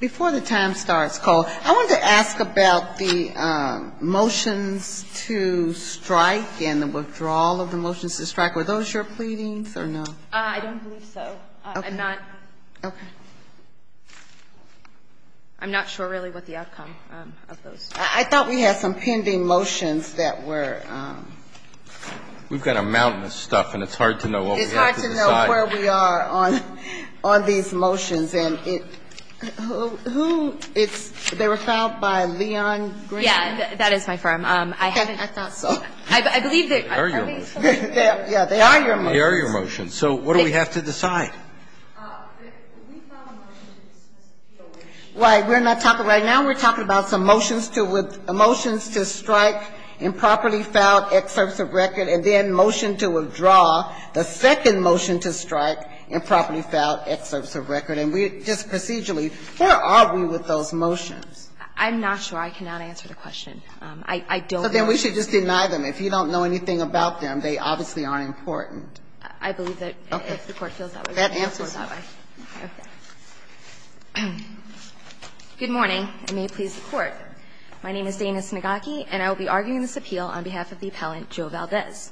Before the time starts, Cole, I wanted to ask about the motions to strike and the withdrawal of the motions to strike. Were those your pleadings or no? I don't believe so. Okay. I'm not. Okay. I'm not sure really what the outcome of those. I thought we had some pending motions that were. We've got a mountain of stuff, and it's hard to know what we have to decide. That's where we are on these motions. And who is they were filed by Leon Green? Yeah, that is my firm. I hadn't thought so. I believe that. They are your motions. Yeah, they are your motions. They are your motions. So what do we have to decide? Right. We're not talking right now. We're talking about some motions to strike improperly filed excerpts of record and then motion to withdraw. The second motion to strike improperly filed excerpts of record. And we're just procedurally, where are we with those motions? I'm not sure. I cannot answer the question. I don't know. So then we should just deny them. If you don't know anything about them, they obviously aren't important. I believe that if the Court feels that way. That answers it. Okay. Good morning, and may it please the Court. My name is Dana Snigocki, and I will be arguing this appeal on behalf of the appellant Joe Valdez.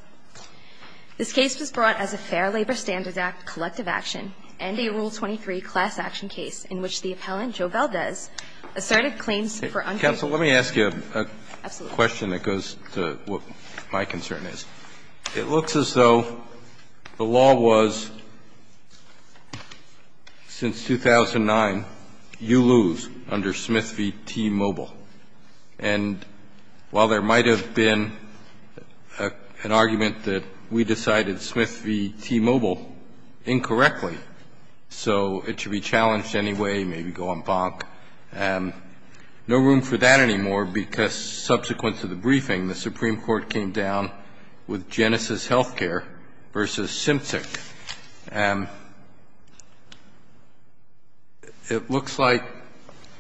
This case was brought as a Fair Labor Standards Act collective action and a Rule 23 class action case in which the appellant, Joe Valdez, asserted claims for unconstitutional services. Absolutely. Counsel, let me ask you a question that goes to what my concern is. It looks as though the law was, since 2009, you lose under Smith v. T-Mobile. And while there might have been an argument that we decided Smith v. T-Mobile incorrectly, so it should be challenged anyway, maybe go on bonk, no room for that anymore, because subsequent to the briefing, the Supreme Court came down with Genesis Healthcare v. Symptic. It looks like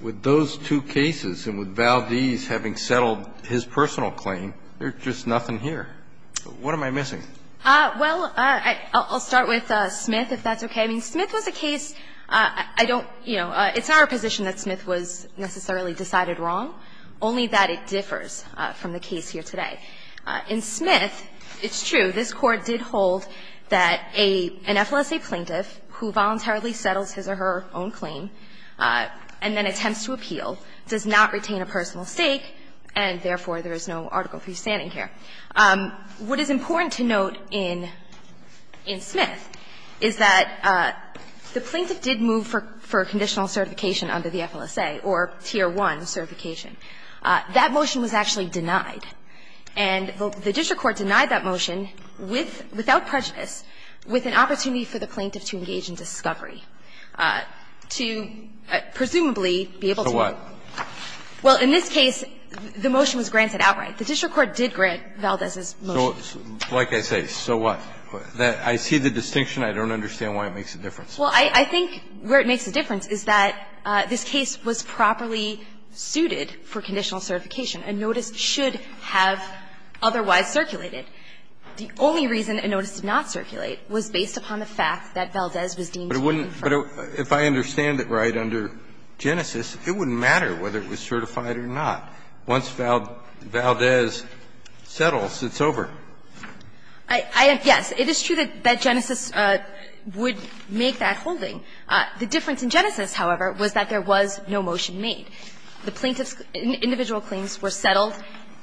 with those two cases and with Valdez having settled his personal claim, there's just nothing here. What am I missing? Well, I'll start with Smith, if that's okay. I mean, Smith was a case. I don't, you know, it's not our position that Smith was necessarily decided wrong, only that it differs from the case here today. In Smith, it's true. This Court did hold that an FLSA plaintiff who voluntarily settles his or her own claim and then attempts to appeal does not retain a personal stake and, therefore, there is no Article III standing here. What is important to note in Smith is that the plaintiff did move for conditional certification under the FLSA or Tier 1 certification. That motion was actually denied. And the district court denied that motion with, without prejudice, with an opportunity for the plaintiff to engage in discovery to presumably be able to move. So what? Well, in this case, the motion was granted outright. The district court did grant Valdez's motion. So, like I say, so what? I see the distinction. I don't understand why it makes a difference. Well, I think where it makes a difference is that this case was properly suited for conditional certification. A notice should have otherwise circulated. The only reason a notice did not circulate was based upon the fact that Valdez was deemed to be infertile. But if I understand it right, under Genesis, it wouldn't matter whether it was certified or not. Once Valdez settles, it's over. Yes, it is true that Genesis would make that holding. The difference in Genesis, however, was that there was no motion made. The plaintiff's individual claims were settled,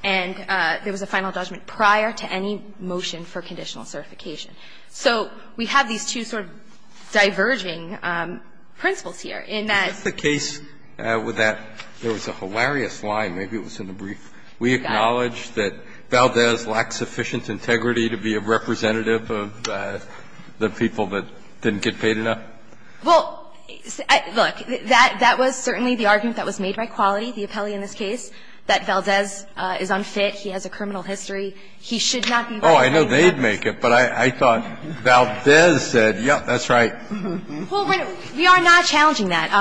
and there was a final judgment prior to any motion for conditional certification. So we have these two sort of diverging principles here, in that the case with that there was a hilarious line, maybe it was in the brief, we acknowledge that Valdez lacks sufficient integrity to be a representative of the people that didn't get paid enough. Well, look, that was certainly the argument that was made by Quality, the appellee in this case, that Valdez is unfit, he has a criminal history, he should not be brought in. Oh, I know they'd make it, but I thought Valdez said, yes, that's right. Well, we are not challenging that.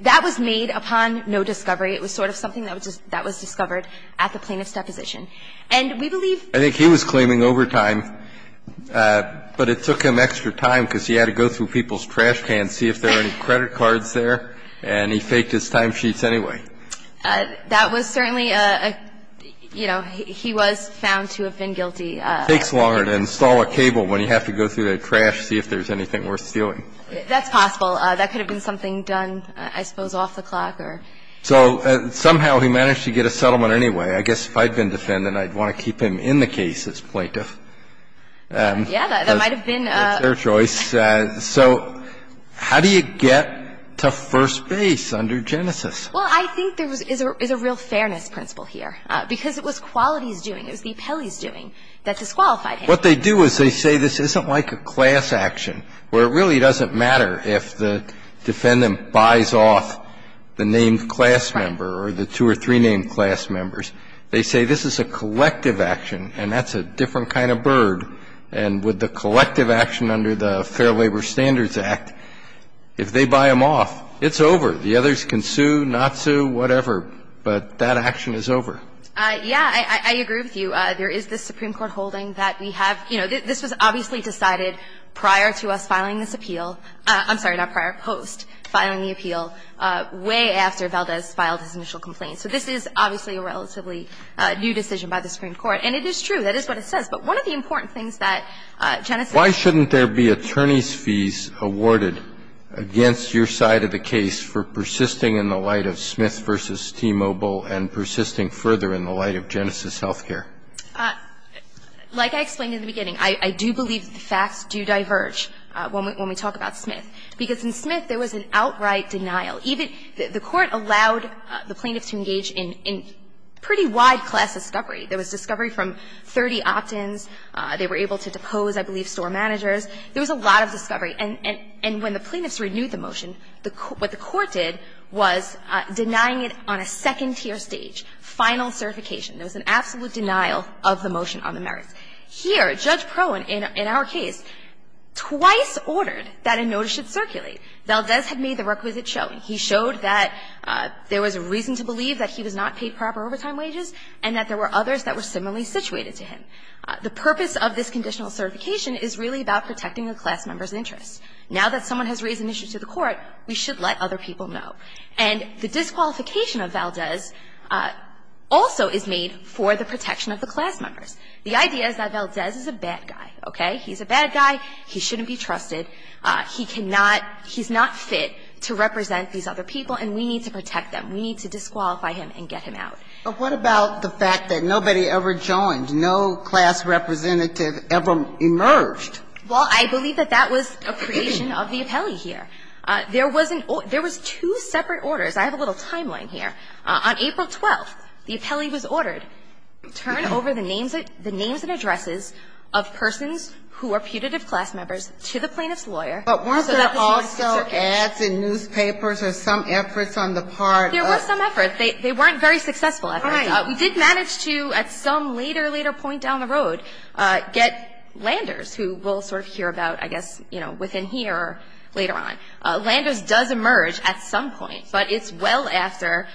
That was made upon no discovery. It was sort of something that was discovered at the plaintiff's deposition. And we believe he was claiming overtime, but it took him extra time because he had to go through people's trash cans, see if there were any credit cards there, and he faked his timesheets anyway. That was certainly a, you know, he was found to have been guilty. It takes longer to install a cable when you have to go through the trash to see if there's anything worth stealing. That's possible. That could have been something done, I suppose, off the clock or. So somehow he managed to get a settlement anyway. I guess if I'd been defendant, I'd want to keep him in the case as plaintiff. Yeah, that might have been. That's their choice. So how do you get to first base under Genesis? Well, I think there is a real fairness principle here, because it was Qualities doing, it was the appellees doing that disqualified him. What they do is they say this isn't like a class action, where it really doesn't matter if the defendant buys off the named class member or the two or three named class members. They say this is a collective action, and that's a different kind of bird. And with the collective action under the Fair Labor Standards Act, if they buy him off, it's over. The others can sue, not sue, whatever. But that action is over. Yeah. I agree with you. There is this Supreme Court holding that we have you know, this was obviously decided prior to us filing this appeal. I'm sorry, not prior, post filing the appeal, way after Valdez filed his initial complaint. So this is obviously a relatively new decision by the Supreme Court. And it is true. That is what it says. But one of the important things that Genesis. Why shouldn't there be attorney's fees awarded against your side of the case for persisting in the light of Smith v. T-Mobile and persisting further in the light of Genesis Healthcare? Like I explained in the beginning, I do believe that the facts do diverge when we talk about Smith. Because in Smith, there was an outright denial. Even the Court allowed the plaintiffs to engage in pretty wide class discovery. There was discovery from 30 opt-ins. They were able to depose, I believe, store managers. There was a lot of discovery. And when the plaintiffs renewed the motion, what the Court did was denying it on a second tier stage, final certification. There was an absolute denial of the motion on the merits. Here, Judge Prohen, in our case, twice ordered that a notice should circulate. Valdez had made the requisite showing. He showed that there was reason to believe that he was not paid proper overtime wages and that there were others that were similarly situated to him. The purpose of this conditional certification is really about protecting a class member's interests. Now that someone has raised an issue to the Court, we should let other people know. And the disqualification of Valdez also is made for the protection of the class members. The idea is that Valdez is a bad guy, okay? He's a bad guy. He shouldn't be trusted. He cannot – he's not fit to represent these other people, and we need to protect them. We need to disqualify him and get him out. But what about the fact that nobody ever joined? No class representative ever emerged. Well, I believe that that was a creation of the appellee here. There wasn't – there was two separate orders. I have a little timeline here. On April 12th, the appellee was ordered, turn over the names of – the names and addresses of persons who are putative class members to the plaintiff's lawyer so that the students could circulate. But weren't there also ads in newspapers or some efforts on the part of – There was some effort. They weren't very successful efforts. We did manage to, at some later, later point down the road, get Landers, who we'll sort of hear about, I guess, you know, within here or later on. Landers does emerge at some point, but it's well after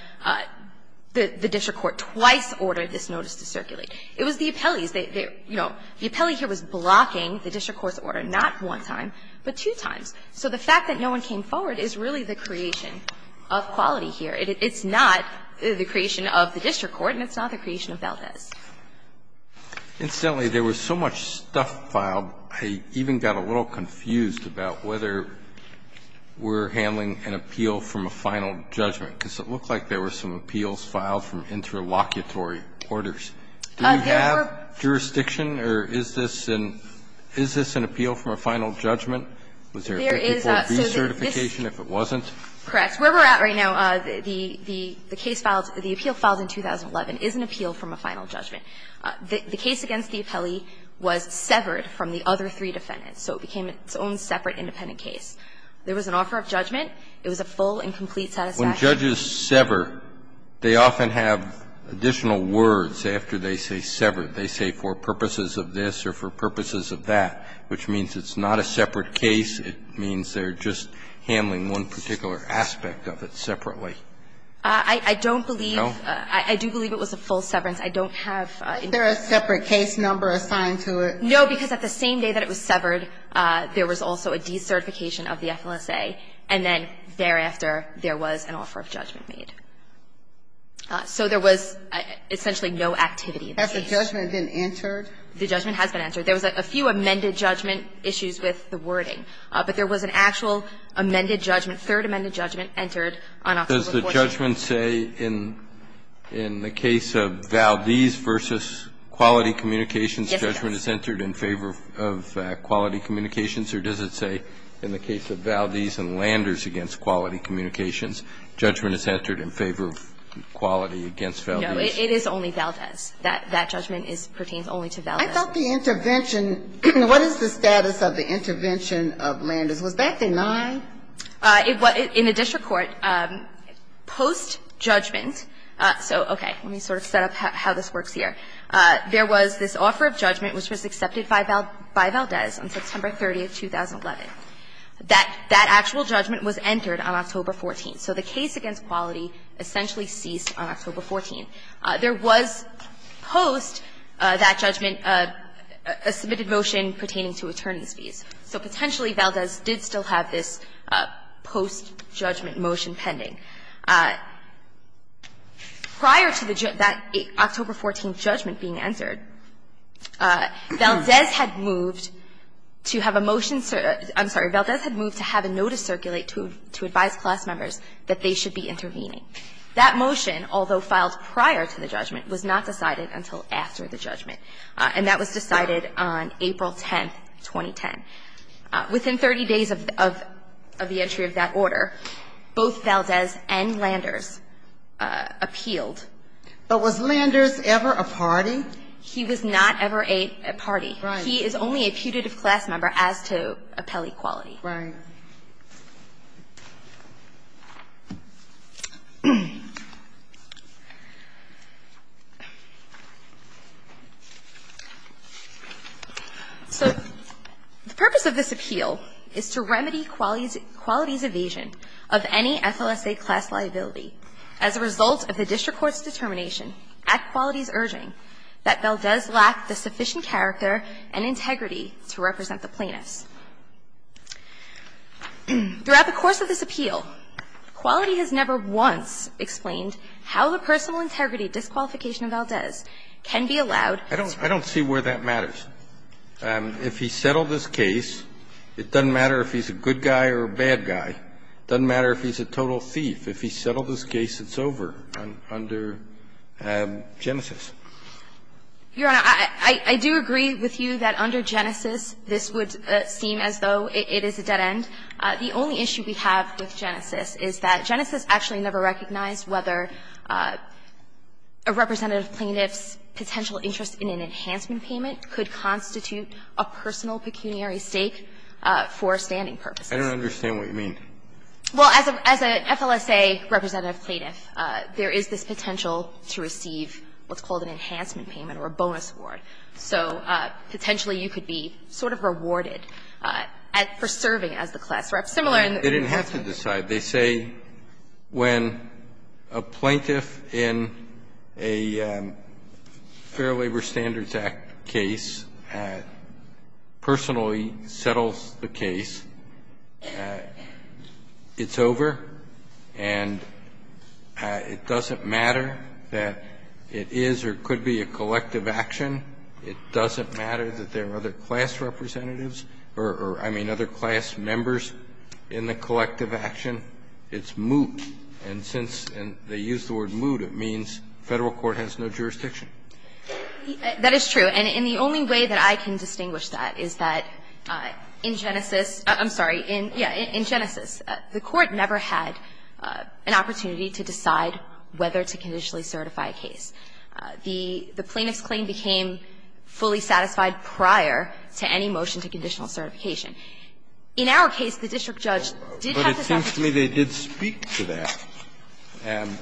the district court twice ordered this notice to circulate. It was the appellees. They – you know, the appellee here was blocking the district court's order not one time, but two times. So the fact that no one came forward is really the creation of quality here. It's not the creation of the district court, and it's not the creation of Valdez. Incidentally, there was so much stuff filed, I even got a little confused about whether we're handling an appeal from a final judgment, because it looked like there were some appeals filed from interlocutory orders. Do we have jurisdiction, or is this an – is this an appeal from a final judgment? Was there a 34B certification if it wasn't? Correct. Where we're at right now, the case filed – the appeal filed in 2011 is an appeal from a final judgment. The case against the appellee was severed from the other three defendants, so it became its own separate independent case. There was an offer of judgment. It was a full and complete satisfaction. When judges sever, they often have additional words after they say severed. They say, for purposes of this or for purposes of that, which means it's not a separate case. It means they're just handling one particular aspect of it separately. I don't believe – No? I do believe it was a full severance. I don't have – Is there a separate case number assigned to it? No, because at the same day that it was severed, there was also a decertification of the FLSA, and then thereafter, there was an offer of judgment made. So there was essentially no activity in the case. Has the judgment been entered? The judgment has been entered. There was a few amended judgment issues with the wording. But there was an actual amended judgment, third amended judgment, entered on October 14th. Does the judgment say in the case of Valdez v. Quality Communications, judgment is entered in favor of Quality Communications? Or does it say in the case of Valdez and Landers v. Quality Communications, judgment is entered in favor of Quality v. Valdez? No. It is only Valdez. That judgment pertains only to Valdez. I thought the intervention – what is the status of the intervention of Landers? Was that denied? In the district court, post-judgment – so, okay, let me sort of set up how this works here. There was this offer of judgment, which was accepted by Valdez on September 30th, 2011. That actual judgment was entered on October 14th. So the case against Quality essentially ceased on October 14th. There was, post that judgment, a submitted motion pertaining to attorneys' fees. So potentially, Valdez did still have this post-judgment motion pending. Prior to that October 14th judgment being entered, Valdez had moved to have a motion – I'm sorry, Valdez had moved to have a notice circulate to advise class members that they should be intervening. That motion, although filed prior to the judgment, was not decided until after the judgment. And that was decided on April 10th, 2010. Within 30 days of the entry of that order, both Valdez and Landers appealed. But was Landers ever a party? He was not ever a party. He is only a putative class member as to appellee Quality. Right. So the purpose of this appeal is to remedy Quality's evasion of any FLSA class liability as a result of the district court's determination at Quality's urging that Valdez lacked the sufficient character and integrity to represent the plaintiffs. Throughout the course of this appeal, Quality has never once explained how the personal integrity disqualification of Valdez can be allowed. I don't see where that matters. If he settled his case, it doesn't matter if he's a good guy or a bad guy. It doesn't matter if he's a total thief. If he settled his case, it's over under Genesis. Your Honor, I do agree with you that under Genesis, this would seem as though it is a dead end. The only issue we have with Genesis is that Genesis actually never recognized whether a representative plaintiff's potential interest in an enhancement payment could constitute a personal pecuniary stake for standing purposes. I don't understand what you mean. Well, as an FLSA representative plaintiff, there is this potential to receive what's called an enhancement payment or a bonus award. So potentially you could be sort of rewarded for serving as the class rep, similar in the enhancement payment. They didn't have to decide. They say when a plaintiff in a Fair Labor Standards Act case personally settles the case, it's over, and it doesn't matter that it is or could be a collective action. It doesn't matter that there are other class representatives or, I mean, other class members in the collective action. It's moot. And since they use the word moot, it means Federal court has no jurisdiction. That is true. And the only way that I can distinguish that is that in Genesis, I'm sorry, in Genesis, the Court never had an opportunity to decide whether to conditionally certify a case. The plaintiff's claim became fully satisfied prior to any motion to conditional certification. In our case, the district judge did have this opportunity. But it seems to me they did speak to that. And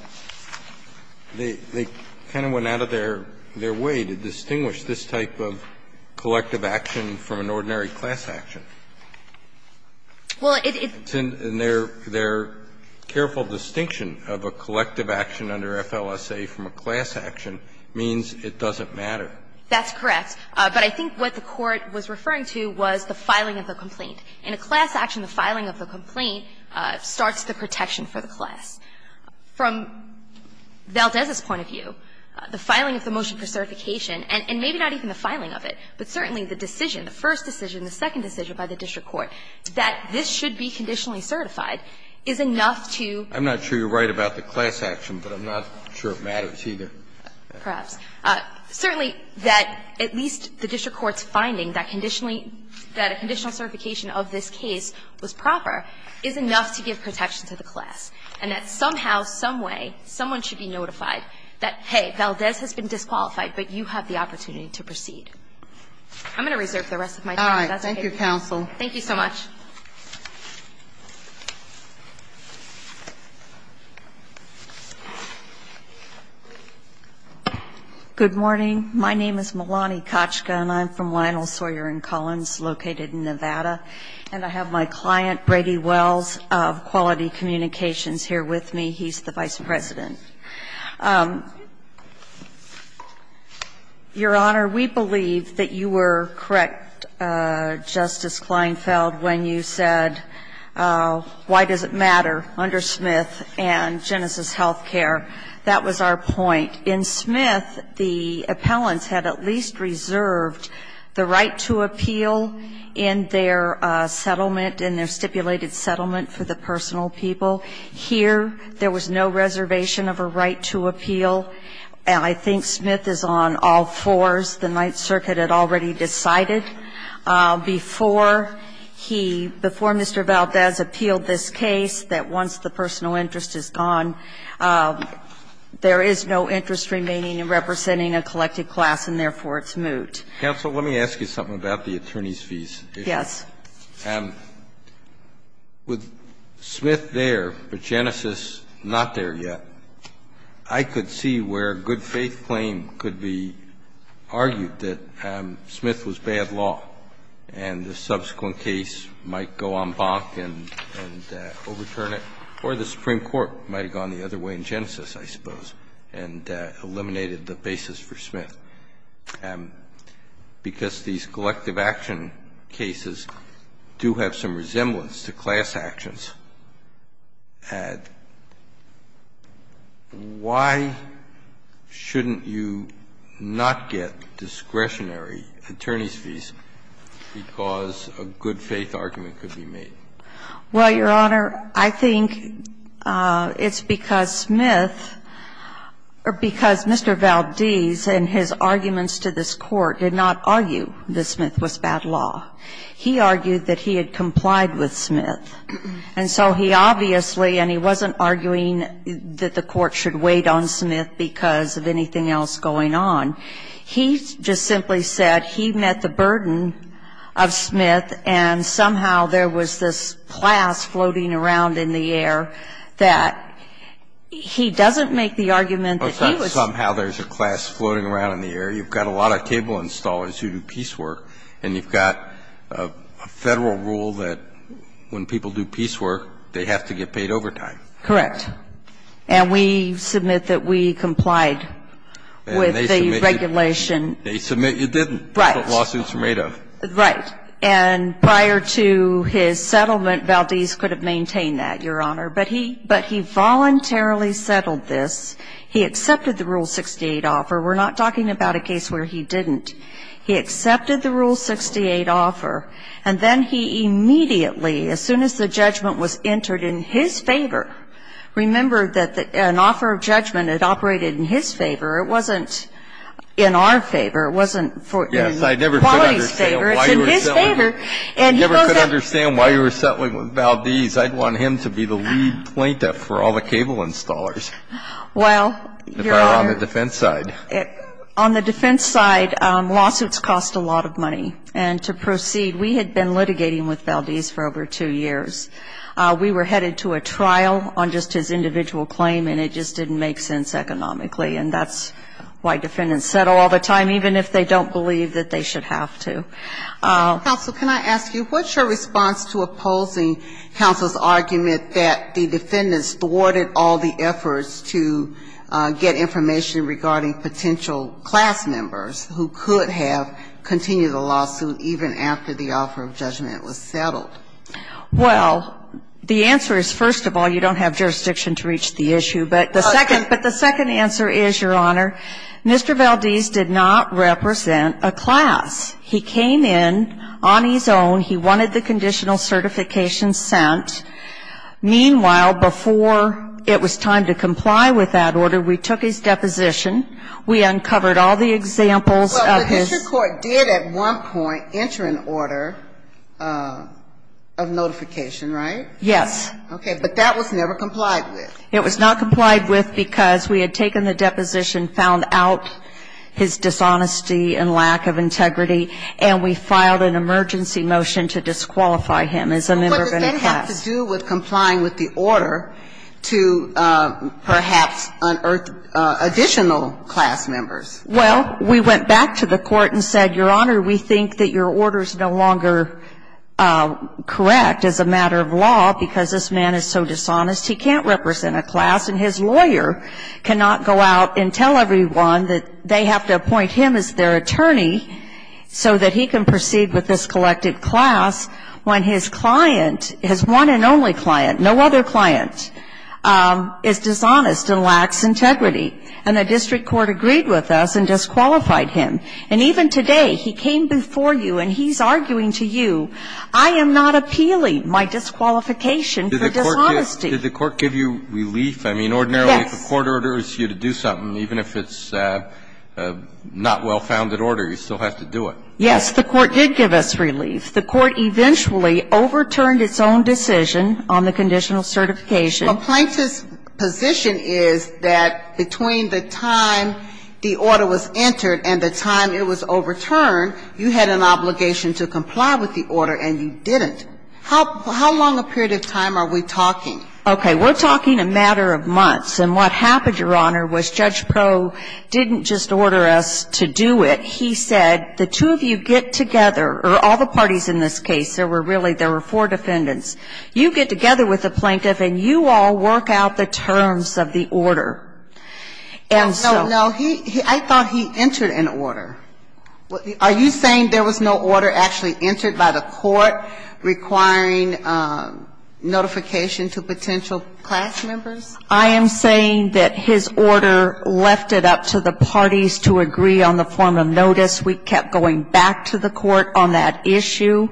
they kind of went out of their way to distinguish this type of collective action from an ordinary class action. Well, it's in their careful distinction of a collective action under FLSA from a class action means it doesn't matter. That's correct. But I think what the Court was referring to was the filing of the complaint. In a class action, the filing of the complaint starts the protection for the class. From Valdez's point of view, the filing of the motion for certification and maybe not even the filing of it, but certainly the decision, the first decision, the second decision by the district court, that this should be conditionally certified is enough to do. I'm not sure you're right about the class action, but I'm not sure it matters either. Perhaps. Certainly, that at least the district court's finding that conditionally that a conditional certification of this case was proper is enough to give protection to the class. And that somehow, someway, someone should be notified that, hey, Valdez has been disqualified, but you have the opportunity to proceed. I'm going to reserve the rest of my time. All right. Thank you, counsel. Thank you so much. Good morning. My name is Melani Kochka, and I'm from Lionel Sawyer & Collins located in Nevada. And I have my client, Brady Wells of Quality Communications here with me. He's the vice president. Your Honor, we believe that you were correct, Justice Kleinfeld, when you said why does it matter under Smith and Genesis Healthcare? That was our point. In Smith, the appellants had at least reserved the right to appeal in their settlement, in their stipulated settlement for the personal people. Here, there was no reservation of a right to appeal. And I think Smith is on all fours. The Ninth Circuit had already decided before he, before Mr. Valdez appealed this case that once the personal interest is gone, there is no interest remaining in representing a collected class, and therefore, it's moot. Counsel, let me ask you something about the attorney's fees. Yes. With Smith there, but Genesis not there yet, I could see where a good faith claim could be argued that Smith was bad law, and the subsequent case might go en banc and overturn it, or the Supreme Court might have gone the other way in Genesis, I suppose, and eliminated the basis for Smith. And because these collective action cases do have some resemblance to class actions, why shouldn't you not get discretionary attorney's fees because a good faith argument could be made? Well, Your Honor, I think it's because Smith, or because Mr. Valdez and his office had argued that Smith was bad law. And I think that the arguments to this Court did not argue that Smith was bad law. He argued that he had complied with Smith. And so he obviously, and he wasn't arguing that the Court should wait on Smith because of anything else going on. He just simply said he met the burden of Smith, and somehow there was this class So, you know, if you're a good faith law firm, you have some good people floating around in the area, you have a lot of table installers who do piecework, and you have got a Federal rule that when people do piecework, they have to get paid overtime. Correct. And we submit that we complied with the regulation. And they submit you didn't. Right. That's what lawsuits are made of. Right. And prior to his settlement, Valdez could have maintained that, Your Honor. But he voluntarily settled this. He accepted the Rule 68 offer. We're not talking about a case where he didn't. He accepted the Rule 68 offer, and then he immediately, as soon as the judgment was entered in his favor, remember that an offer of judgment had operated in his favor. It wasn't in Wally's favor. It's in his favor. You never could understand why you were settling with Valdez. I'd want him to be the lead plaintiff for all the cable installers. Well, Your Honor. If I were on the defense side. On the defense side, lawsuits cost a lot of money. And to proceed, we had been litigating with Valdez for over two years. We were headed to a trial on just his individual claim, and it just didn't make sense economically. And that's why defendants settle all the time, even if they don't believe that they should have to. Counsel, can I ask you, what's your response to opposing counsel's argument that the defendants thwarted all the efforts to get information regarding potential class members who could have continued the lawsuit even after the offer of judgment was settled? Well, the answer is, first of all, you don't have jurisdiction to reach the issue. But the second answer is, Your Honor, Mr. Valdez did not represent a class. He came in on his own. He wanted the conditional certification sent. Meanwhile, before it was time to comply with that order, we took his deposition. We uncovered all the examples of his ---- Well, the history court did at one point enter an order of notification, right? Yes. Okay. But that was never complied with. It was not complied with because we had taken the deposition, found out his dishonesty and lack of integrity, and we filed an emergency motion to disqualify him as a member of the class. What does that have to do with complying with the order to perhaps unearth additional class members? Well, we went back to the court and said, Your Honor, we think that your order is no longer correct as a matter of law because this man is so dishonest, he can't represent a class, and his lawyer cannot go out and tell everyone that they have to appoint him as their attorney so that he can proceed with this collective class when his client, his one and only client, no other client, is dishonest and lacks integrity. And the district court agreed with us and disqualified him. And even today, he came before you and he's arguing to you, I am not appealing my disqualification for dishonesty. Did the court give you relief? I mean, ordinarily, if the court orders you to do something, even if it's not well-founded order, you still have to do it. Yes, the court did give us relief. The court eventually overturned its own decision on the conditional certification. Complaint's position is that between the time the order was entered and the time it was overturned, you had an obligation to comply with the order and you didn't. How long a period of time are we talking? Okay. We're talking a matter of months. And what happened, Your Honor, was Judge Proh didn't just order us to do it. He said, the two of you get together, or all the parties in this case, there were really, there were four defendants. You get together with the plaintiff and you all work out the terms of the order. And so no, he, I thought he entered an order. Are you saying there was no order actually entered by the court requiring notification to potential class members? I am saying that his order left it up to the parties to agree on the form of notice. We kept going back to the court on that issue.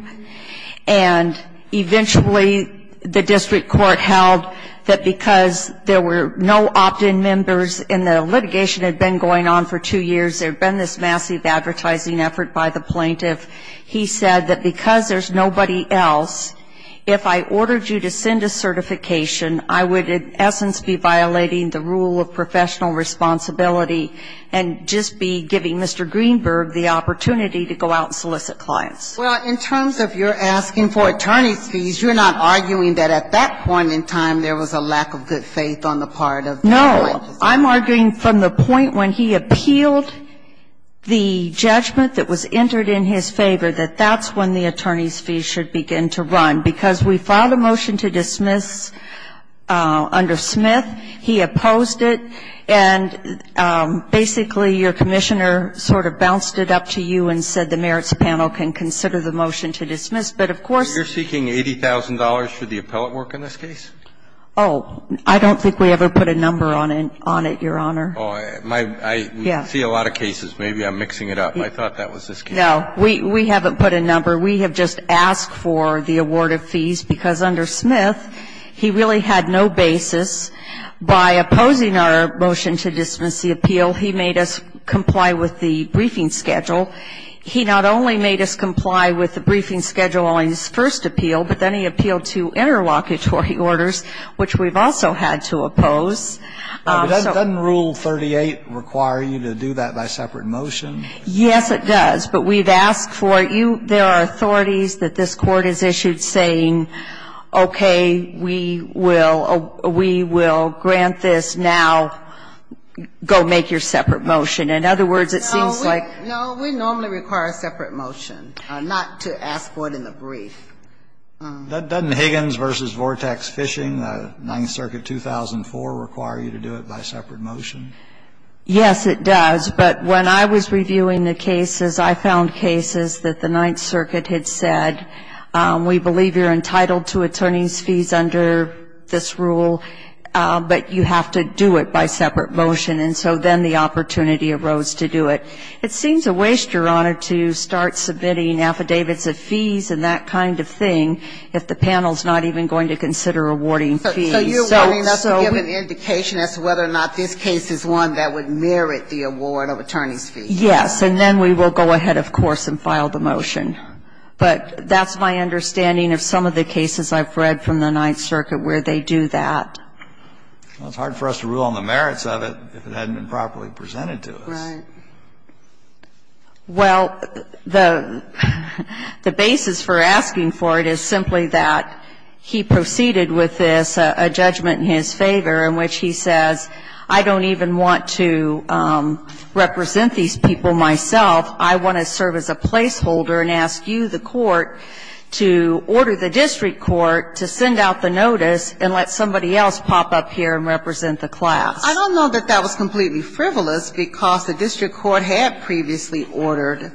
And eventually, the district court held that because there were no opt-in members and the litigation had been going on for two years, there had been this massive advertising effort by the plaintiff, he said that because there's nobody else, if I were to go out and solicit clients, I would be violating the rule of professional responsibility and just be giving Mr. Greenberg the opportunity to go out and solicit clients. Well, in terms of your asking for attorney's fees, you're not arguing that at that point in time there was a lack of good faith on the part of the plaintiff? No. I'm arguing from the point when he appealed the judgment that was entered in his case. I'm arguing that under Smith, he opposed it and basically your commissioner sort of bounced it up to you and said the merits panel can consider the motion to dismiss. But of course you're seeking $80,000 for the appellate work in this case? Oh, I don't think we ever put a number on it, Your Honor. Oh, I see a lot of cases. Maybe I'm mixing it up. No. We haven't put a number. We have just asked for the award of fees because under Smith, he really had no basis by opposing our motion to dismiss the appeal. He made us comply with the briefing schedule. He not only made us comply with the briefing schedule on his first appeal, but then he appealed to interlocutory orders, which we've also had to oppose. Doesn't Rule 38 require you to do that by separate motion? Yes, it does. But we've asked for it. There are authorities that this Court has issued saying, okay, we will grant this. Now go make your separate motion. In other words, it seems like we normally require a separate motion, not to ask for it in the brief. Doesn't Higgins v. Vortex Fishing, 9th Circuit 2004, require you to do it by separate motion? Yes, it does. But when I was reviewing the cases, I found cases that the 9th Circuit had said, we believe you're entitled to attorney's fees under this rule, but you have to do it by separate motion. And so then the opportunity arose to do it. It seems a waste, Your Honor, to start submitting affidavits of fees and that kind of thing if the panel's not even going to consider awarding fees. So you're wanting us to give an indication as to whether or not this case is one that would merit the award of attorney's fees. Yes. And then we will go ahead, of course, and file the motion. But that's my understanding of some of the cases I've read from the 9th Circuit where they do that. Well, it's hard for us to rule on the merits of it if it hadn't been properly presented to us. Right. Well, the basis for asking for it is simply that he proceeded with this, a judgment in his favor, in which he says, I don't even want to represent these people myself. I want to serve as a placeholder and ask you, the court, to order the district court to send out the notice and let somebody else pop up here and represent the class. I don't know that that was completely frivolous, because the district court had previously ordered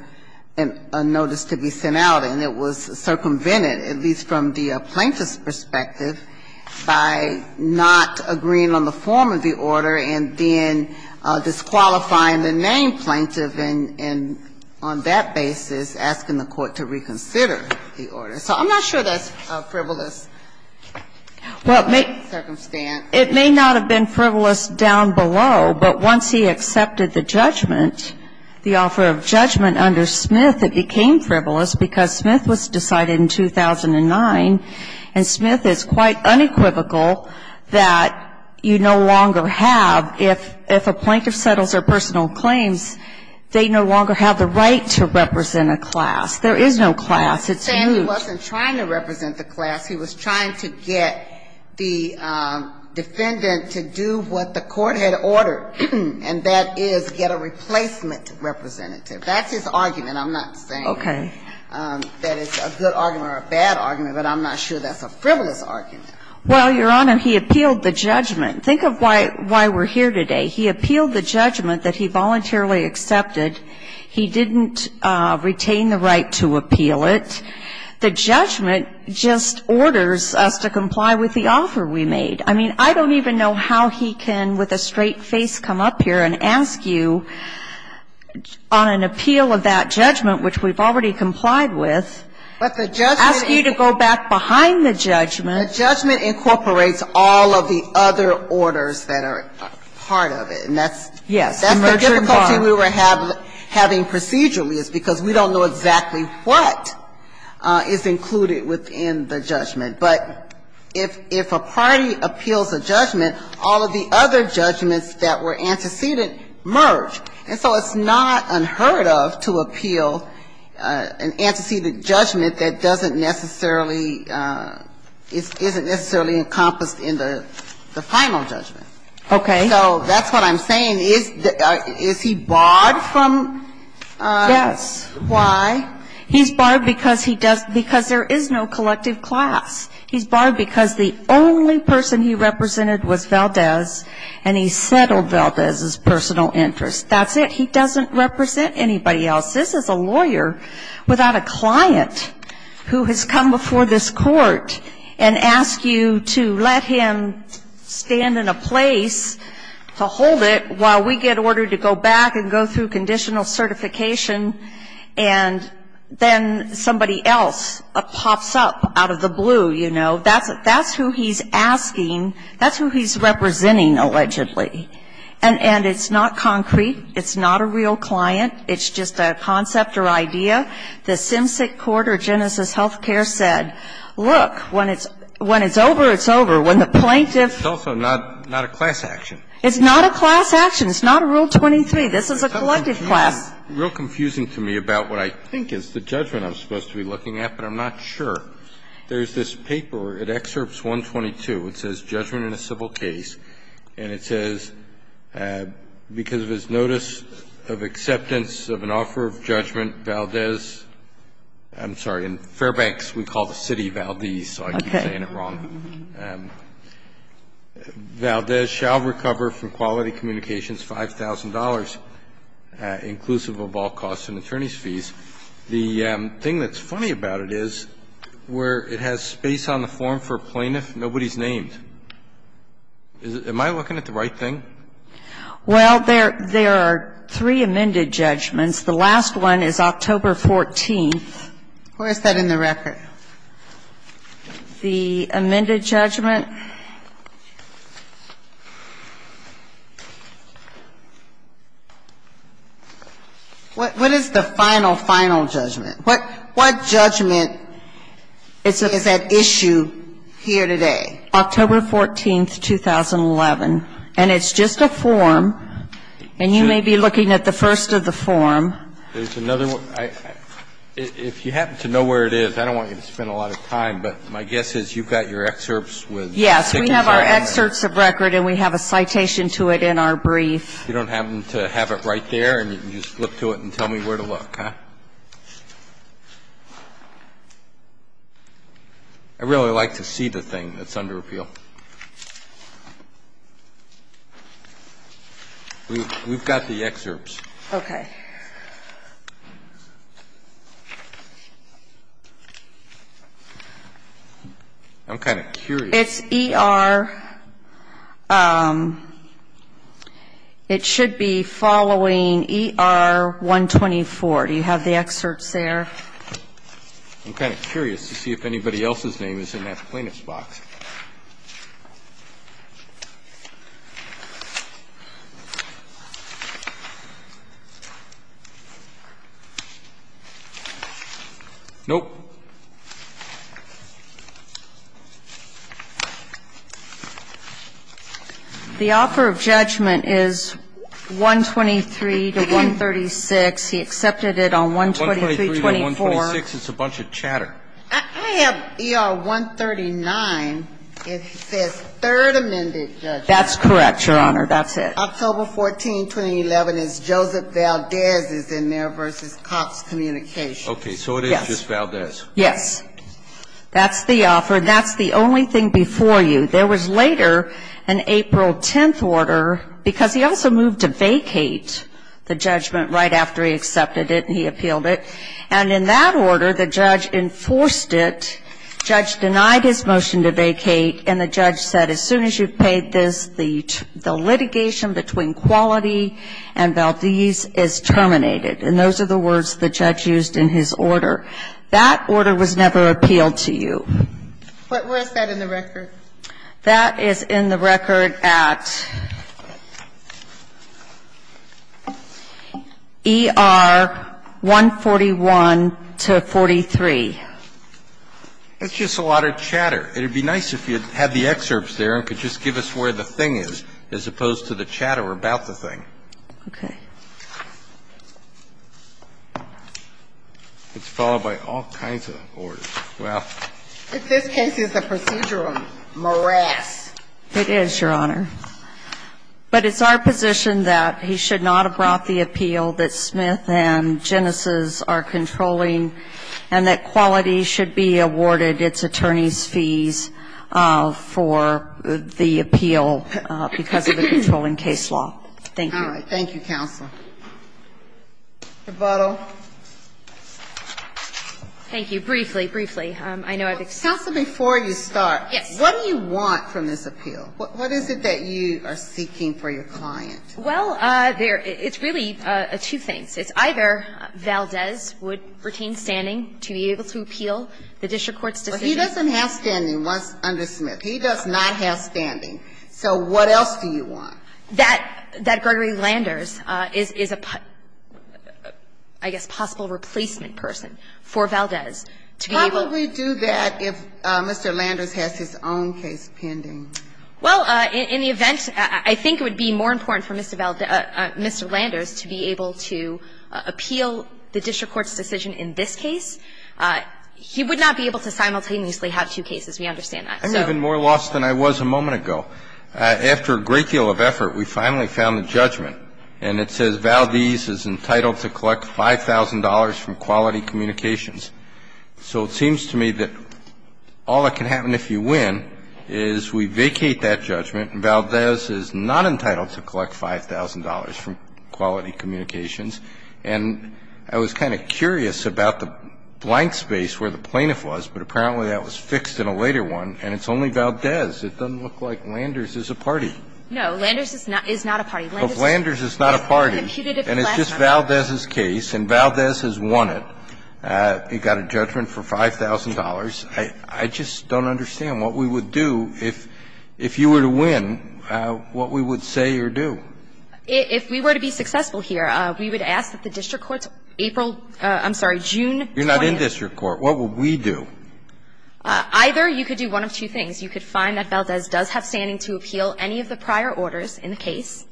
a notice to be sent out, and it was circumvented, at least from the plaintiff's perspective, by not agreeing on the form of the order and then disqualifying the named plaintiff and, on that basis, asking the court to reconsider the order. So I'm not sure that's frivolous. Well, it may not have been frivolous down below, but once he accepted the judgment, the offer of judgment under Smith, it became frivolous, because Smith was decided in 2009, and Smith is quite unequivocal that you no longer have, if a plaintiff settles their personal claims, they no longer have the right to represent a class. There is no class. It's huge. He wasn't trying to represent the class. He was trying to get the defendant to do what the court had ordered, and that is get a replacement representative. That's his argument. I'm not saying that it's a good argument. It's a good argument or a bad argument, but I'm not sure that's a frivolous argument. Well, Your Honor, he appealed the judgment. Think of why we're here today. He appealed the judgment that he voluntarily accepted. He didn't retain the right to appeal it. The judgment just orders us to comply with the offer we made. I mean, I don't even know how he can, with a straight face, come up here and ask you on an appeal of that judgment, which we've already complied with, ask you to go back behind the judgment. The judgment incorporates all of the other orders that are part of it, and that's the difficulty we were having procedurally, is because we don't know exactly what is included within the judgment. But if a party appeals a judgment, all of the other judgments that were antecedent merge, and so it's not unheard of to appeal an antecedent judgment that doesn't necessarily, isn't necessarily encompassed in the final judgment. Okay. So that's what I'm saying. Is he barred from? Yes. Why? He's barred because there is no collective class. He's barred because the only person he represented was Valdez, and he settled for Valdez's personal interest. That's it. He doesn't represent anybody else. This is a lawyer without a client who has come before this court and asked you to let him stand in a place to hold it while we get ordered to go back and go through conditional certification, and then somebody else pops up out of the blue, you know. So that's who he's asking. That's who he's representing, allegedly. And it's not concrete. It's not a real client. It's just a concept or idea. The Simsic Court or Genesis Healthcare said, look, when it's over, it's over. When the plaintiff ---- It's also not a class action. It's not a class action. It's not a Rule 23. This is a collective class. It's real confusing to me about what I think is the judgment I'm supposed to be looking at, but I'm not sure. There's this paper. It excerpts 122. It says judgment in a civil case, and it says because of his notice of acceptance of an offer of judgment, Valdez ---- I'm sorry. In Fairbanks, we call the city Valdez, so I keep saying it wrong. Okay. Valdez shall recover from quality communications $5,000, inclusive of all costs and attorney's fees. The thing that's funny about it is where it has space on the form for plaintiff, nobody's named. Am I looking at the right thing? Well, there are three amended judgments. The last one is October 14th. Where is that in the record? The amended judgment. What is the final, final judgment? What judgment is at issue here today? October 14th, 2011. And it's just a form. And you may be looking at the first of the form. There's another one. If you happen to know where it is, I don't want you to spend a lot of time, but my guess is you've got your excerpts with the form. Yes, we have our excerpts of record and we have a citation to it in our brief. You don't happen to have it right there and you just look to it and tell me where to look, huh? I really like to see the thing that's under appeal. We've got the excerpts. Okay. I'm kind of curious. It's ER, it should be following ER-124. Do you have the excerpts there? I'm kind of curious to see if anybody else's name is in that plaintiff's box. Nope. The offer of judgment is 123 to 136. He accepted it on 123-24. It's a bunch of chatter. I have ER-139. It says third amended judgment. That's correct, Your Honor. That's it. October 14th, 2011 is Joseph Valdez is in there versus Cox Communications. Okay. So it is just Valdez. Yes. That's the offer. That's the only thing before you. There was later an April 10th order because he also moved to vacate the judgment right after he accepted it and he appealed it. And in that order, the judge enforced it. The judge denied his motion to vacate and the judge said as soon as you've paid this, the litigation between Quality and Valdez is terminated. And those are the words the judge used in his order. That order was never appealed to you. Where is that in the record? That is in the record at ER-141-43. That's just a lot of chatter. It would be nice if you had the excerpts there and could just give us where the thing is as opposed to the chatter about the thing. Okay. It's followed by all kinds of orders. Well. If this case is a procedural morass. It is, Your Honor. But it's our position that he should not have brought the appeal that Smith and Genesis are controlling and that Quality should be awarded its attorney's fees for the appeal because of the controlling case law. Thank you. All right. Thank you, Counsel. Rebuttal. Thank you. Briefly, briefly. I know I've excused myself. Counsel, before you start. Yes. What do you want from this appeal? What is it that you are seeking for your client? Well, it's really two things. It's either Valdez would retain standing to be able to appeal the district court's decision. He doesn't have standing under Smith. He does not have standing. So what else do you want? That Gregory Landers is a, I guess, possible replacement person for Valdez to be able to. How would we do that if Mr. Landers has his own case pending? Well, in the event, I think it would be more important for Mr. Landers to be able to appeal the district court's decision in this case. He would not be able to simultaneously have two cases. We understand that. I'm even more lost than I was a moment ago. After a great deal of effort, we finally found a judgment. And it says Valdez is entitled to collect $5,000 from Quality Communications. So it seems to me that all that can happen if you win is we vacate that judgment and Valdez is not entitled to collect $5,000 from Quality Communications. And I was kind of curious about the blank space where the plaintiff was. But apparently that was fixed in a later one. And it's only Valdez. It doesn't look like Landers is a party. No, Landers is not a party. Landers is not a party. And it's just Valdez's case. And Valdez has won it. He got a judgment for $5,000. I just don't understand what we would do if you were to win, what we would say or do. If we were to be successful here, we would ask that the district court's April – I'm sorry, June 20th. You're not in district court. What would we do? Either you could do one of two things. You could find that Valdez does have standing to appeal any of the prior orders in the case,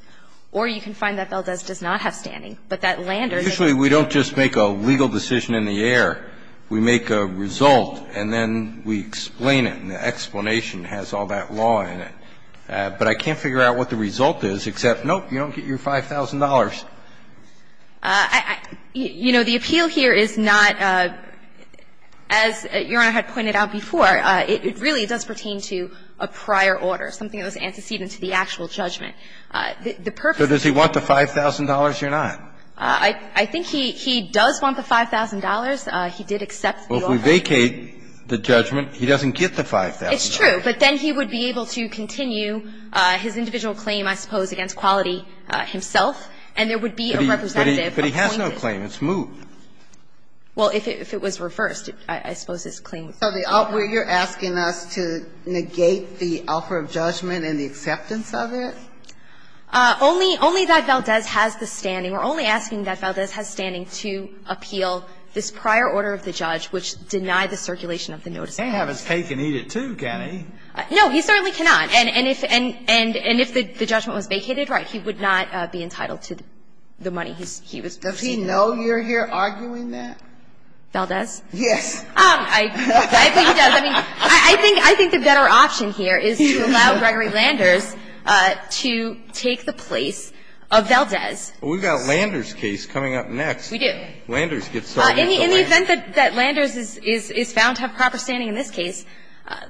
or you can find that Valdez does not have standing, but that Landers – Usually we don't just make a legal decision in the air. We make a result and then we explain it. And the explanation has all that law in it. But I can't figure out what the result is except, nope, you don't get your $5,000. You know, the appeal here is not, as Your Honor had pointed out before, it really does pertain to a prior order, something that was antecedent to the actual judgment. The purpose – So does he want the $5,000 or not? I think he does want the $5,000. He did accept the offer. Well, if we vacate the judgment, he doesn't get the $5,000. It's true. But then he would be able to continue his individual claim, I suppose, against Quality himself, and there would be a representative appointing him. But he has no claim. It's moved. Well, if it was reversed, I suppose his claim would be reversed. So you're asking us to negate the offer of judgment and the acceptance of it? Only that Valdez has the standing. We're only asking that Valdez has standing to appeal this prior order of the judge, which denied the circulation of the notice. He can't have his cake and eat it, too, can he? No, he certainly cannot. And if the judgment was vacated, right, he would not be entitled to the money he was receiving. Does he know you're here arguing that? Valdez? Yes. I think he does. I mean, I think the better option here is to allow Gregory Landers to take the place of Valdez. Well, we've got Landers' case coming up next. We do. Landers gets started. In the event that Landers is found to have proper standing in this case,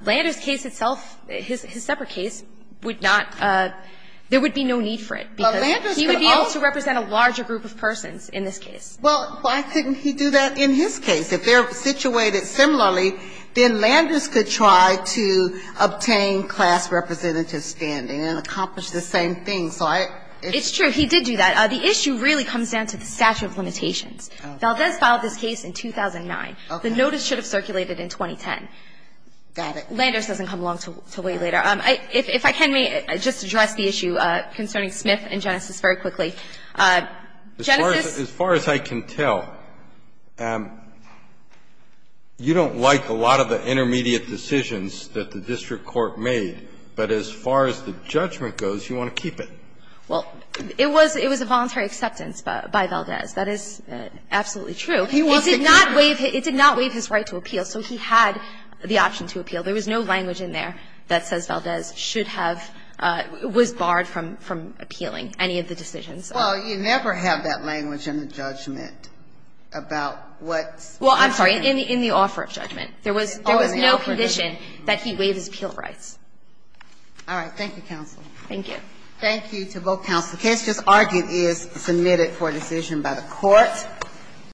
Landers' case itself, his separate case, would not – there would be no need for it, because he would be able to represent a larger group of persons in this case. Well, why couldn't he do that in his case? If they're situated similarly, then Landers could try to obtain class representative standing and accomplish the same thing. It's true. He did do that. The issue really comes down to the statute of limitations. Valdez filed this case in 2009. The notice should have circulated in 2010. Got it. Landers doesn't come along until way later. If I can, may I just address the issue concerning Smith and Genesis very quickly? Genesis – As far as I can tell, you don't like a lot of the intermediate decisions that the district court made, but as far as the judgment goes, you want to keep it. Well, it was a voluntary acceptance by Valdez. That is absolutely true. He wanted to keep it. It did not waive his right to appeal, so he had the option to appeal. There was no language in there that says Valdez should have – was barred from appealing any of the decisions. Well, you never have that language in the judgment about what's – Well, I'm sorry. In the offer of judgment. There was no condition that he waive his appeal rights. All right. Thank you, counsel. Thank you. Thank you to both counsels. The case just argued is submitted for decision by the court.